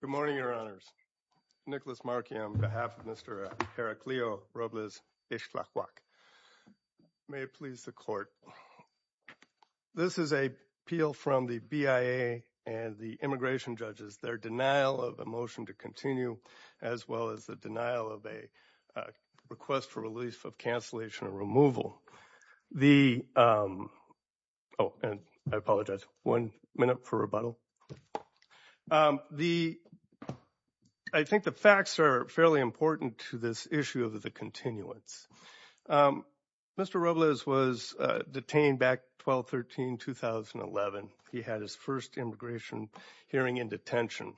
Good morning, Your Honors. Nicholas Markey on behalf of Mr. Heraclio Robles-Ixtlahuac. May it please the Court. This is an appeal from the BIA and the immigration judges, their denial of a motion to continue as well as the denial of a request for release of cancellation or removal. The, oh, and I apologize, one minute for rebuttal. The, I think the facts are fairly important to this issue of the continuance. Mr. Robles was detained back 12-13-2011. He had his first immigration hearing in detention.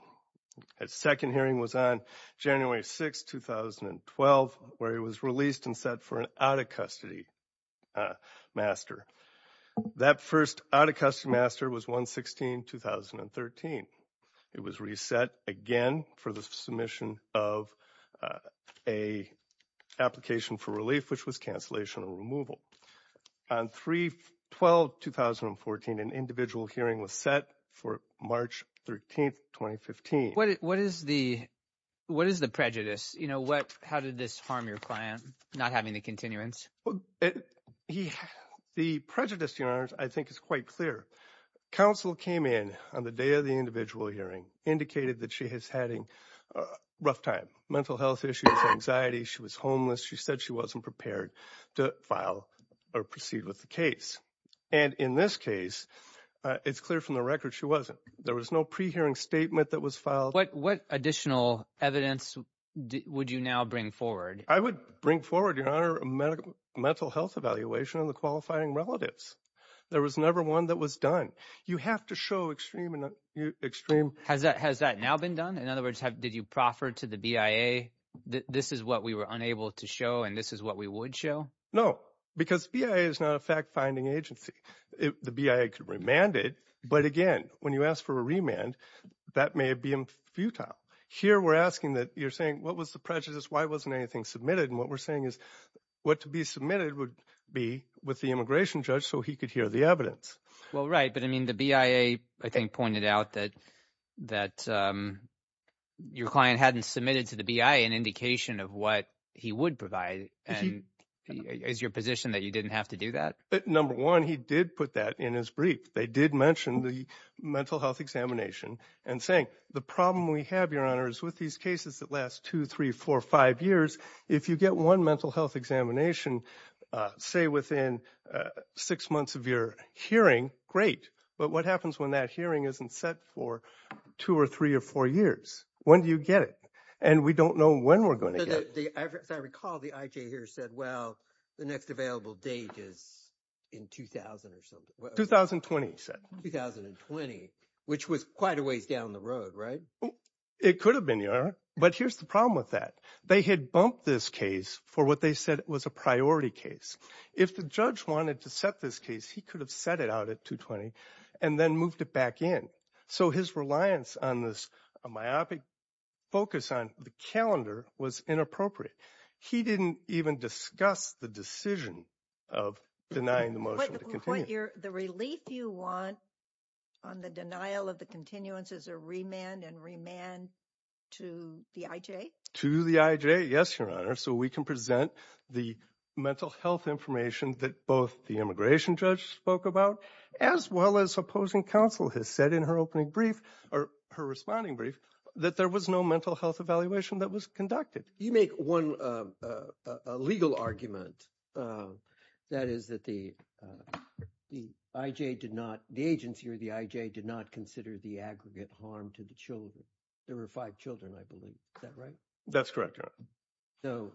His second hearing was on January 6, 2012, where he was released and set for an out-of-custody master. That first out-of-custody master was 1-16-2013. It was reset again for the submission of a application for relief, which was cancellation or removal. On 3-12-2014, an individual hearing was set for March 13, 2015. What is the, what is the prejudice? You know, what, how did this harm your client not having the continuance? The prejudice, Your Honors, I think is quite clear. Counsel came in on the day of the individual hearing, indicated that she has had a rough time, mental health issues, anxiety. She was homeless. She said she wasn't prepared to file or proceed with the case. And in this case, it's clear from the record she wasn't. There was no pre-hearing statement that was filed. What, what additional evidence would you now bring forward? I would bring forward, Your Honor, a medical, mental health evaluation of the qualifying relatives. There was never one that was done. You have to show extreme and extreme. Has that, has that now been done? In other words, have, did you proffer to the BIA this is what we were unable to show and this is what we would show? No, because BIA is not a fact-finding agency. The BIA could remand it. But again, when you ask for a remand, that may be futile. Here, we're asking that you're saying, what was the prejudice? Why wasn't anything submitted? And what we're saying is what to be submitted would be with the immigration judge so he could hear the evidence. Well, right. But I mean, the BIA, I think, pointed out that, that your client hadn't submitted to the BIA an indication of what he would provide. And is your position that you didn't have to do that? Number one, he did put that in his brief. They did mention the mental health examination and saying, the problem we have, Your Honor, is with these cases that last two, three, four, five years, if you get one mental health examination, say within six months of your hearing, great. But what happens when that hearing isn't set for two or three or four years? When do you get it? And we don't know when we're going to get it. As I recall, the IJ here said, well, the next available date is in 2000 or something. 2020, he said. 2020, which was quite a ways down the road, right? It could have been, Your Honor. But here's the problem with that. They had bumped this case for what they said was a priority case. If the judge wanted to set this case, he could have set out at 2020 and then moved it back in. So his reliance on this myopic focus on the calendar was inappropriate. He didn't even discuss the decision of denying the motion to continue. The relief you want on the denial of the continuance is a remand and remand to the IJ? To the IJ, yes, Your Honor. So we can present the mental health information that both the immigration judge spoke about, as well as opposing counsel has said in her opening brief, or her responding brief, that there was no mental health evaluation that was conducted. You make one legal argument. That is that the IJ did not, the agency or the IJ did not consider the aggregate harm to the children. There were five children, I believe. Is that right? That's correct, Your Honor. So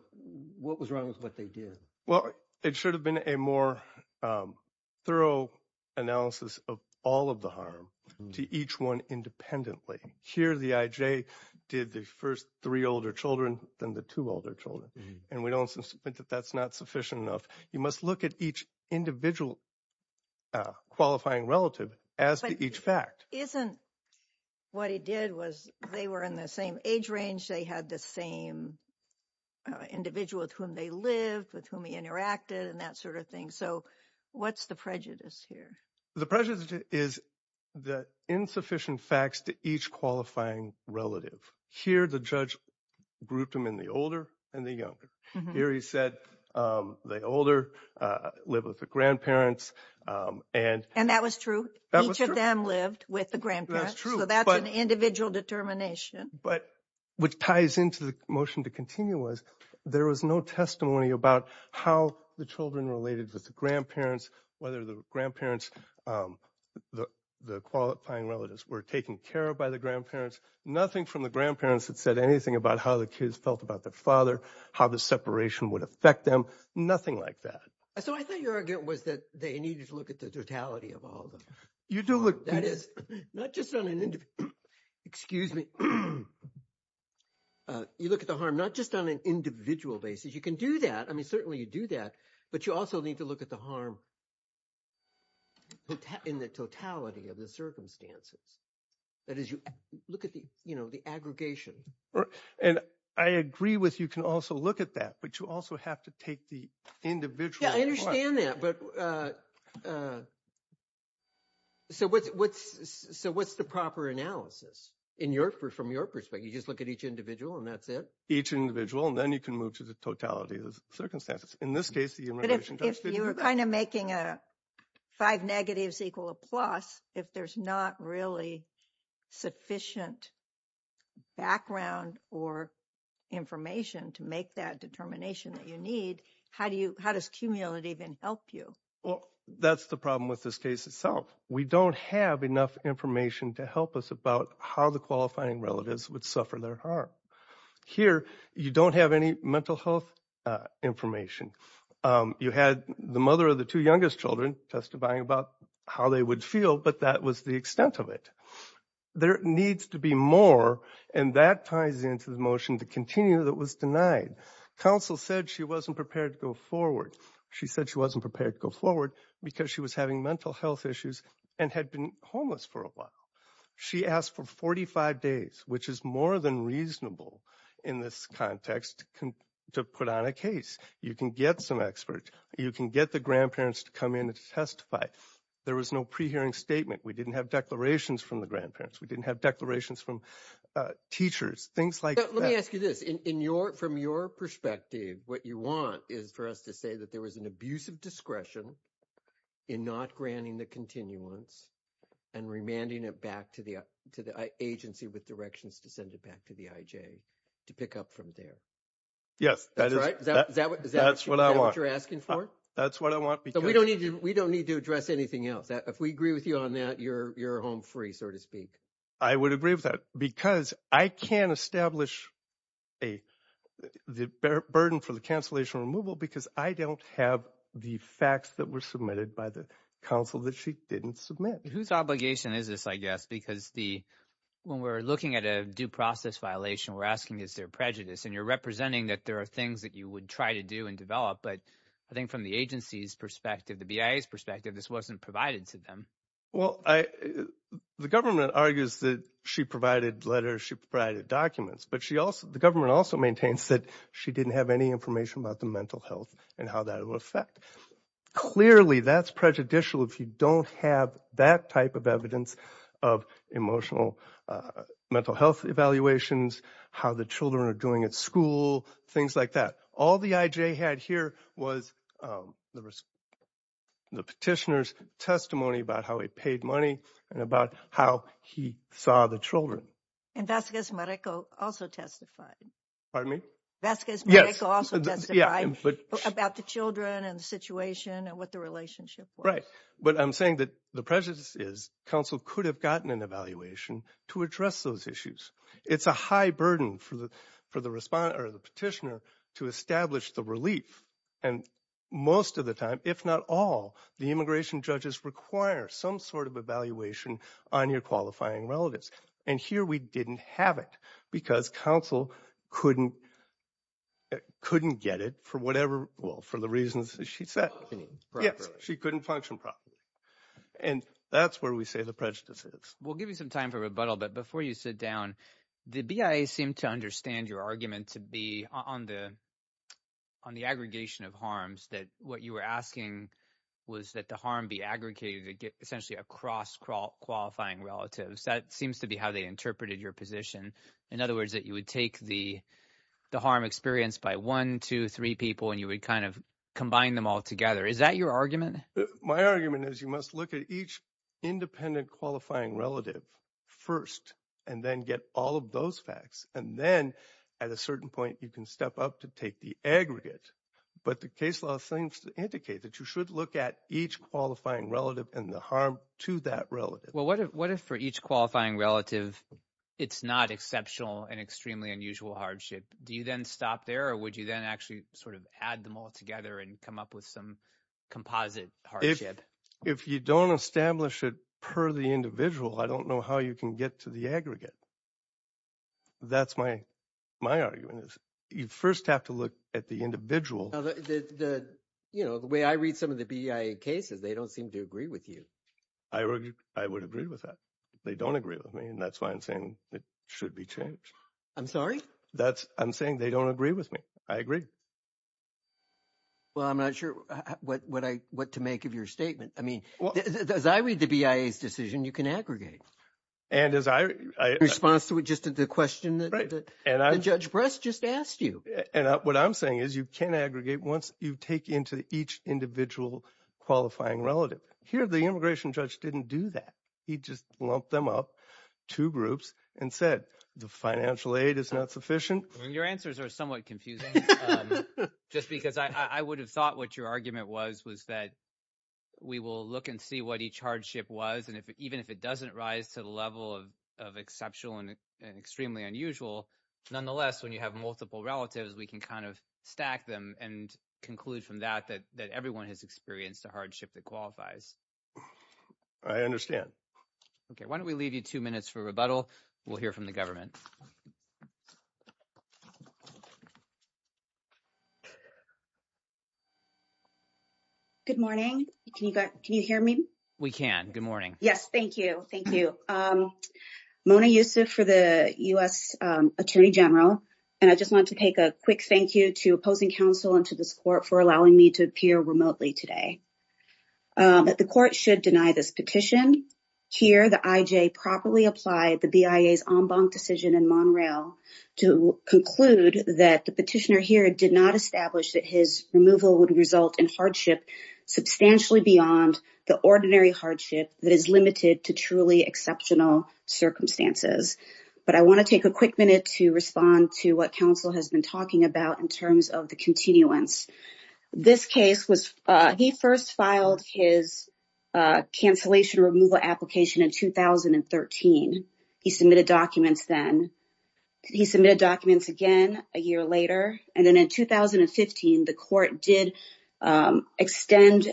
what was wrong with what they did? Well, it should have been a more thorough analysis of all of the harm to each one independently. Here, the IJ did the first three older children than the two older children. And we don't think that that's not sufficient enough. You must look at each individual qualifying relative as to each fact. Isn't what he did was they were in the same age range. They had the same individual with whom they lived, with whom he interacted, and that sort of thing. So what's the prejudice here? The prejudice is the insufficient facts to each qualifying relative. Here, the judge grouped them in the older and the younger. Here, he said the older live with the grandparents. And that was true. Each of them lived with the grandparents. That's true. So that's an individual determination. But what ties into the motion to continue was there was no testimony about how the children related with the grandparents, whether the grandparents, the qualifying relatives were taken care of by the grandparents. Nothing from the grandparents that said anything about how the kids felt about their father, how the separation would affect them. Nothing like that. So I thought your argument was that they needed to look at the totality of all of them. You do look. Not just on an individual basis. You can do that. I mean, certainly you do that. But you also need to look at the harm in the totality of the circumstances. That is, you look at the aggregation. And I agree with you can also look at that, but you also have to take the individual. I understand that, but. So what's the proper analysis in your from your perspective, you just look at each individual and that's it. Each individual, and then you can move to the totality of the circumstances. In this case, if you were kind of making a five negatives equal a plus, if there's not really sufficient background or information to make that determination that you How do you how does cumulative and help you? Well, that's the problem with this case itself. We don't have enough information to help us about how the qualifying relatives would suffer their harm. Here, you don't have any mental health information. You had the mother of the two youngest children testifying about how they would feel, but that was the extent of it. There needs to be more and that ties into the motion to continue that was denied. Counsel said she wasn't prepared to go forward. She said she wasn't prepared to go forward because she was having mental health issues and had been homeless for a while. She asked for 45 days, which is more than reasonable in this context to put on a case. You can get some experts. You can get the grandparents to come in and testify. There was no pre hearing statement. We didn't have declarations from the grandparents. We didn't have declarations from teachers, things like that. I ask you this, from your perspective, what you want is for us to say that there was an abuse of discretion in not granting the continuance and remanding it back to the agency with directions to send it back to the IJ to pick up from there. Yes, that's what I want. Is that what you're asking for? That's what I want. But we don't need to address anything else. If we agree with you on that, you're home free, so to speak. I would agree with that because I can't establish the burden for the cancellation removal because I don't have the facts that were submitted by the counsel that she didn't submit. Whose obligation is this, I guess? Because when we're looking at a due process violation, we're asking, is there prejudice? And you're representing that there are things that you would try to do and develop. But I think from the agency's perspective, the BIA's perspective, this wasn't provided to them. Well, the government argues that she provided letters. She provided documents. The government also maintains that she didn't have any information about the mental health and how that will affect. Clearly, that's prejudicial if you don't have that type of evidence of emotional mental health evaluations, how the children are doing at school, things like that. All the IJ had here was the petitioner's testimony about how he paid money and about how he saw the children. And Vasquez-Marico also testified. Pardon me? Vasquez-Marico also testified about the children and the situation and what the relationship was. Right. But I'm saying that the prejudice is counsel could have gotten an evaluation to address those issues. It's a high burden for the for the respondent or the petitioner to establish the relief. And most of the time, if not all, the immigration judges require some sort of evaluation on your qualifying relatives. And here we didn't have it because counsel couldn't couldn't get it for whatever. Well, for the reasons she said, she couldn't function properly. And that's where we say the prejudice is. We'll give you some time for rebuttal. But before you sit down, the BIA seem to understand your argument to be on the on the aggregation of harms that what you were asking was that the harm be aggregated essentially across qualifying relatives. That seems to be how they interpreted your position. In other words, that you would take the the harm experienced by one, two, three people and you would kind of combine them all together. Is that your argument? My argument is you must look at each independent qualifying relative first and then get all of those facts. And then at a certain point, you can step up to take the aggregate. But the case law seems to indicate that you should look at each qualifying relative and the harm to that relative. Well, what if what if for each qualifying relative, it's not exceptional and extremely unusual hardship? Do you then stop there or would you then actually sort of add them all together and come up with some composite hardship? If you don't establish it per the individual, I don't know how you can get to the aggregate. That's my my argument is you first have to look at the individual. You know, the way I read some of the BIA cases, they don't seem to agree with you. I argue I would agree with that. They don't agree with me. And that's why I'm saying it should be changed. I'm sorry. That's I'm saying they don't agree with me. I agree. Well, I'm not sure what what I what to make of your statement. I mean, as I read the BIA's decision, you can aggregate. And as I response to it, just the question that the judge just asked you. And what I'm saying is you can aggregate once you take into each individual qualifying relative here. The immigration judge didn't do that. He just lumped them up two groups and said the financial aid is not sufficient. Your answers are somewhat confusing, just because I would have thought what your argument was, was that we will look and see what each hardship was. And if even if it doesn't rise to the level of of exceptional and extremely unusual, nonetheless, when you have multiple relatives, we can kind of stack them and conclude from that that that everyone has experienced a hardship that qualifies. I understand. OK, why don't we leave you two minutes for rebuttal? We'll hear from the government. Good morning. Can you can you hear me? We can. Good morning. Yes. Thank you. Thank you, Mona Yusuf for the U.S. Attorney General. And I just want to take a quick thank you to opposing counsel and to the support for allowing me to appear remotely today. The court should deny this petition here. The IJ properly applied the BIA's en banc decision in Montreal to conclude that the petitioner here did not establish that his removal would result in hardship substantially beyond the ordinary hardship that is limited to truly exceptional circumstances. But I want to take a quick minute to respond to what counsel has been talking about in terms of the continuance. This case was he first filed his cancellation removal application in 2013. He submitted documents then he submitted documents again a year later. And then in 2015, the court did extend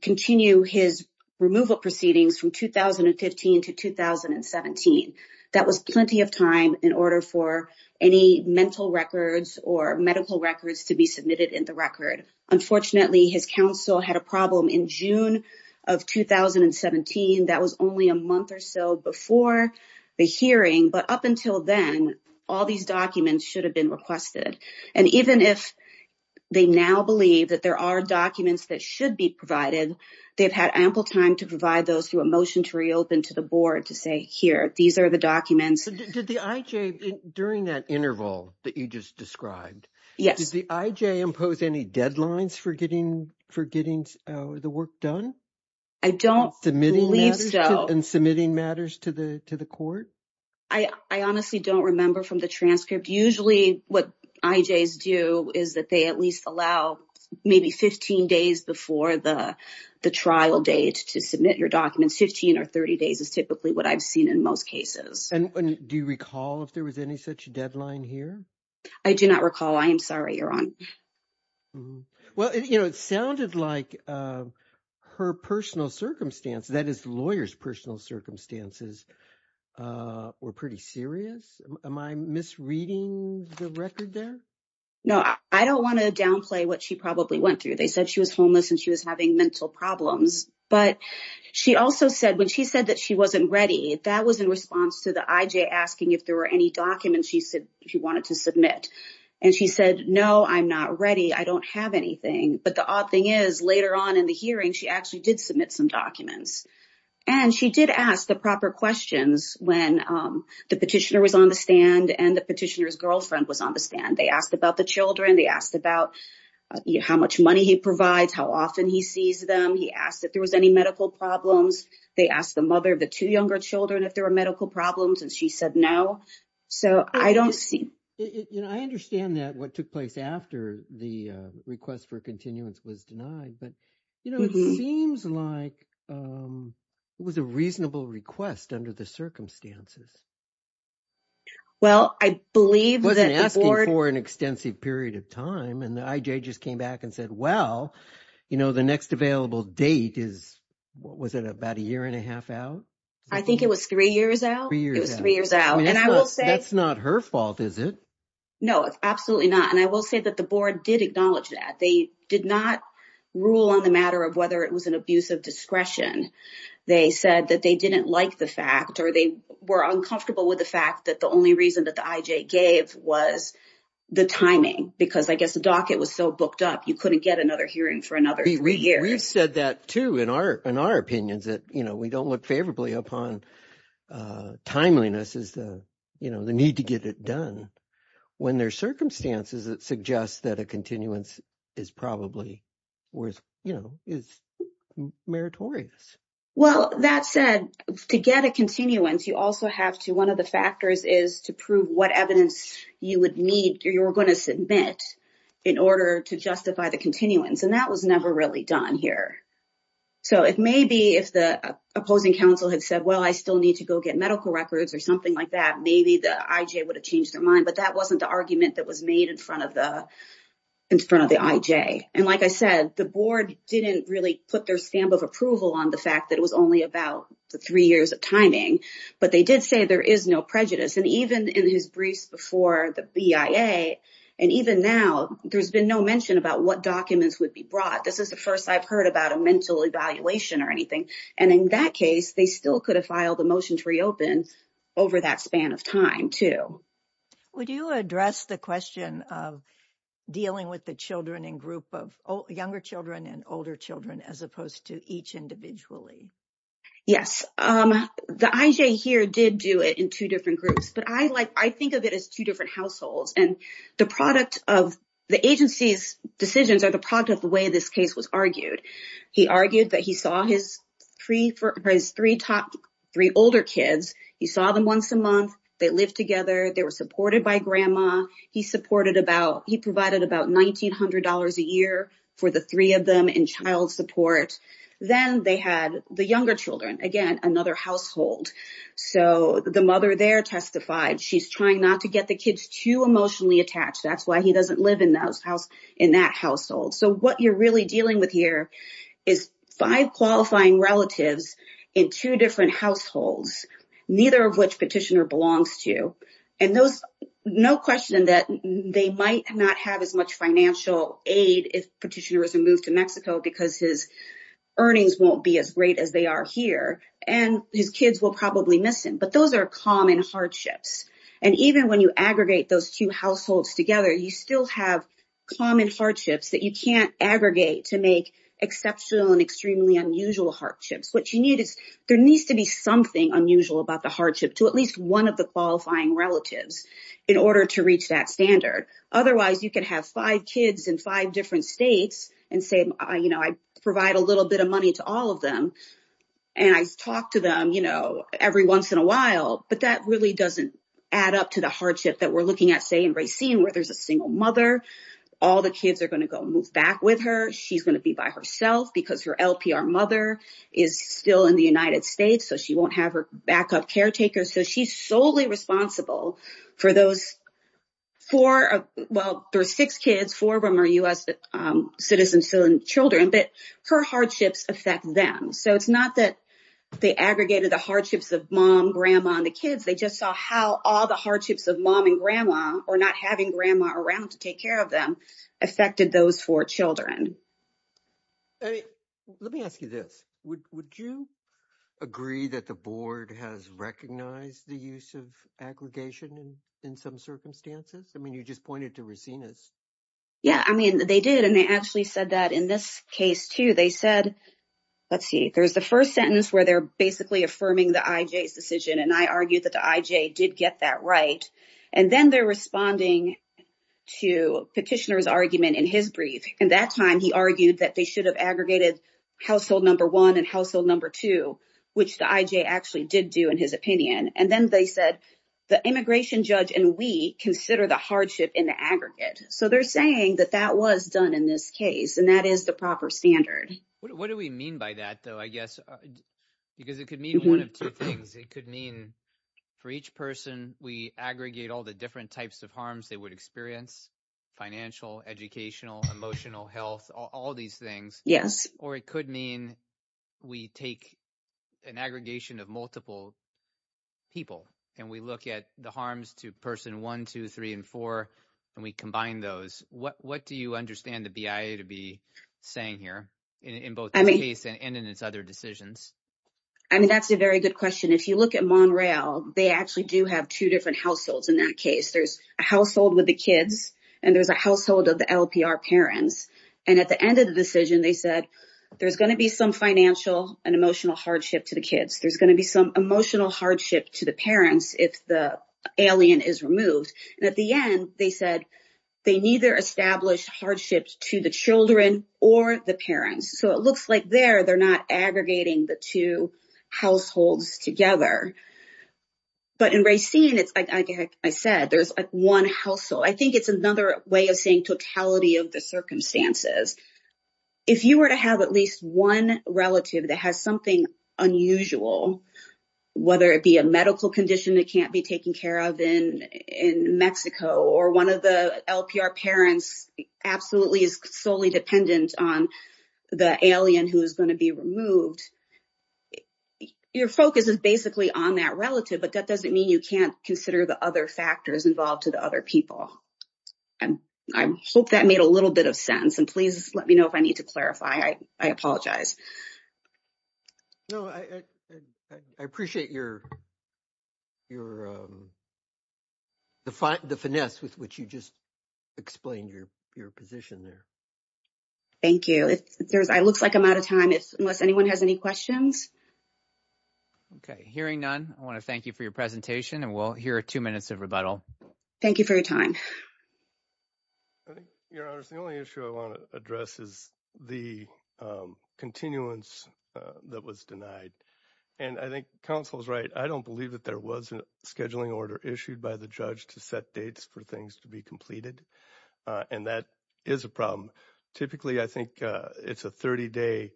continue his removal proceedings from 2015 to 2017. That was plenty of time in order for any mental records or medical records to be submitted in the record. Unfortunately, his counsel had a problem in June of 2017. That was only a month or so before the hearing. But up until then, all these documents should have been requested. And even if they now believe that there are documents that should be provided, they've had ample time to provide those through a motion to reopen to the board to say, here, these are the documents. Did the IJ during that interval that you just described? Yes. Does the IJ impose any deadlines for getting the work done? I don't believe so. And submitting matters to the court? I honestly don't remember from the transcript. Usually what IJs do is that they at least allow maybe 15 days before the trial date to submit your documents. 15 or 30 days is typically what I've seen in most cases. And do you recall if there was any such deadline here? I do not recall. I am sorry, Your Honor. Well, it sounded like her personal circumstance, that is, the lawyer's personal circumstances were pretty serious. Am I misreading the record there? No. I don't want to downplay what she probably went through. They said she was homeless and she was having mental problems. But she also said when she said that she wasn't ready, that was in response to the IJ asking if there were any documents she said she wanted to submit. And she said, no, I'm not ready. I don't have anything. But the odd thing is, later on in the hearing, she actually did submit some documents. And she did ask the proper questions when the petitioner was on the stand and the petitioner's girlfriend was on the stand. They asked about the children. They asked about how much money he provides, how often he sees them. He asked if there was any medical problems. They asked the mother of the two younger children if there were medical problems. And she said no. So I don't see. I understand that what took place after the request for continuance was denied. But it seems like it was a reasonable request under the circumstances. Well, I believe that the board- Wasn't asking for an extensive period of time. And the IJ just came back and said, well, the next available date is, what was it, about a year and a half out? I think it was three years out. Three years out. It was three years out. That's not her fault, is it? No, absolutely not. And I will say that the board did acknowledge that. They did not rule on the matter of whether it was an abuse of discretion. They said that they didn't like the fact or they were uncomfortable with the fact that the only reason that the IJ gave was the timing. Because I guess the docket was so booked up, you couldn't get another hearing for another three years. We've said that, too, in our opinions, that we don't look favorably upon timeliness as the need to get it done when there are circumstances that suggest that a continuance is probably worth, you know, is meritorious. Well, that said, to get a continuance, you also have to, one of the factors is to prove what evidence you would need or you're going to submit in order to justify the continuance. And that was never really done here. So if maybe if the opposing counsel had said, well, I still need to go get medical records or something like that, maybe the IJ would have changed their mind. But that wasn't the argument that was made in front of the IJ. And like I said, the board didn't really put their stamp of approval on the fact that it was only about the three years of timing. But they did say there is no prejudice. And even in his briefs before the BIA and even now, there's been no mention about what documents would be brought. This is the first I've heard about a mental evaluation or anything. And in that case, they still could have filed a motion to reopen over that span of time too. Would you address the question of dealing with the children in group of younger children and older children as opposed to each individually? Yes, the IJ here did do it in two different groups. But I like I think of it as two different households. And the product of the agency's decisions are the product of the way this case was argued. He argued that he saw his three older kids. He saw them once a month. They lived together. They were supported by grandma. He provided about $1,900 a year for the three of them in child support. Then they had the younger children, again, another household. So the mother there testified. She's trying not to get the kids too emotionally attached. That's why he doesn't live in that household. So what you're really dealing with here is five qualifying relatives in two different households, neither of which Petitioner belongs to. And there's no question that they might not have as much financial aid if Petitioner doesn't move to Mexico because his earnings won't be as great as they are here. And his kids will probably miss him. But those are common hardships. And even when you aggregate those two households together, you still have common hardships that you can't aggregate to make exceptional and extremely unusual hardships. What you need is there needs to be something unusual about the hardship to at least one of the qualifying relatives in order to reach that standard. Otherwise, you can have five kids in five different states and say, you know, I provide a little bit of money to all of them. And I talk to them, you know, every once in a while. But that really doesn't add up to the hardship that we're looking at, say, in Racine, where there's a single mother. All the kids are going to go move back with her. She's going to be by herself because her LPR mother is still in the United States. So she won't have her backup caretaker. So she's solely responsible for those four. Well, there's six kids, four of them are U.S. citizen children, but her hardships affect them. So it's not that they aggregated the hardships of mom, grandma, and the kids. They just saw how all the hardships of mom and grandma or not having grandma around to take care of them affected those four children. Let me ask you this. Would you agree that the board has recognized the use of aggregation in some circumstances? I mean, you just pointed to Racine. Yeah, I mean, they did. And they actually said that in this case, too. They said, let's see, there's the first sentence where they're basically affirming the IJ's decision. And I argue that the IJ did get that right. And then they're responding to Petitioner's argument in his brief. And that time he argued that they should have aggregated household number one and household number two, which the IJ actually did do in his opinion. And then they said the immigration judge and we consider the hardship in the aggregate. So they're saying that that was done in this case. And that is the proper standard. What do we mean by that, though? I guess because it could mean one of two things. It could mean for each person, we aggregate all the different types of harms they would experience, financial, educational, emotional, health, all these things. Yes. Or it could mean we take an aggregation of multiple people and we look at the harms to person one, two, three, and four, and we combine those. What do you understand the BIA to be saying here in both the case and in its other decisions? I mean, that's a very good question. If you look at Monreal, they actually do have two different households in that case. There's a household with the kids and there's a household of the LPR parents. And at the end of the decision, they said there's going to be some financial and emotional hardship to the kids. There's going to be some emotional hardship to the parents if the alien is removed. And at the end, they said they neither established hardships to the children or the parents. So it looks like there they're not aggregating the two households together. But in Racine, it's like I said, there's one household. I think it's another way of saying totality of the circumstances. If you were to have at least one relative that has something unusual, whether it be a medical condition that can't be taken care of in Mexico, or one of the LPR parents absolutely is solely dependent on the alien who is going to be removed, your focus is basically on that relative. But that doesn't mean you can't consider the other factors involved to the other people. And I hope that made a little bit of sense. And please let me know if I need to clarify. I apologize. No, I appreciate the finesse with which you just explained your position there. Thank you. It looks like I'm out of time unless anyone has any questions. Okay, hearing none, I want to thank you for your presentation. And we'll hear two minutes of rebuttal. Thank you for your time. I think, Your Honor, the only issue I want to address is the continuance that was denied. And I think counsel's right. I don't believe that there was a scheduling order issued by the judge to set dates for things to be completed. And that is a problem. Typically, I think it's a 30-day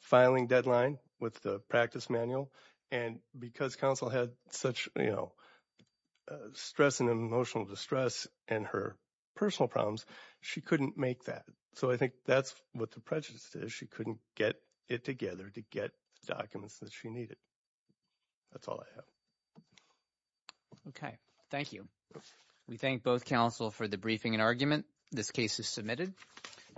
filing deadline with the practice manual. And because counsel had such, you know, stress and emotional distress and her personal problems, she couldn't make that. So I think that's what the prejudice is. She couldn't get it together to get documents that she needed. That's all I have. Okay, thank you. We thank both counsel for the briefing and argument. This case is submitted.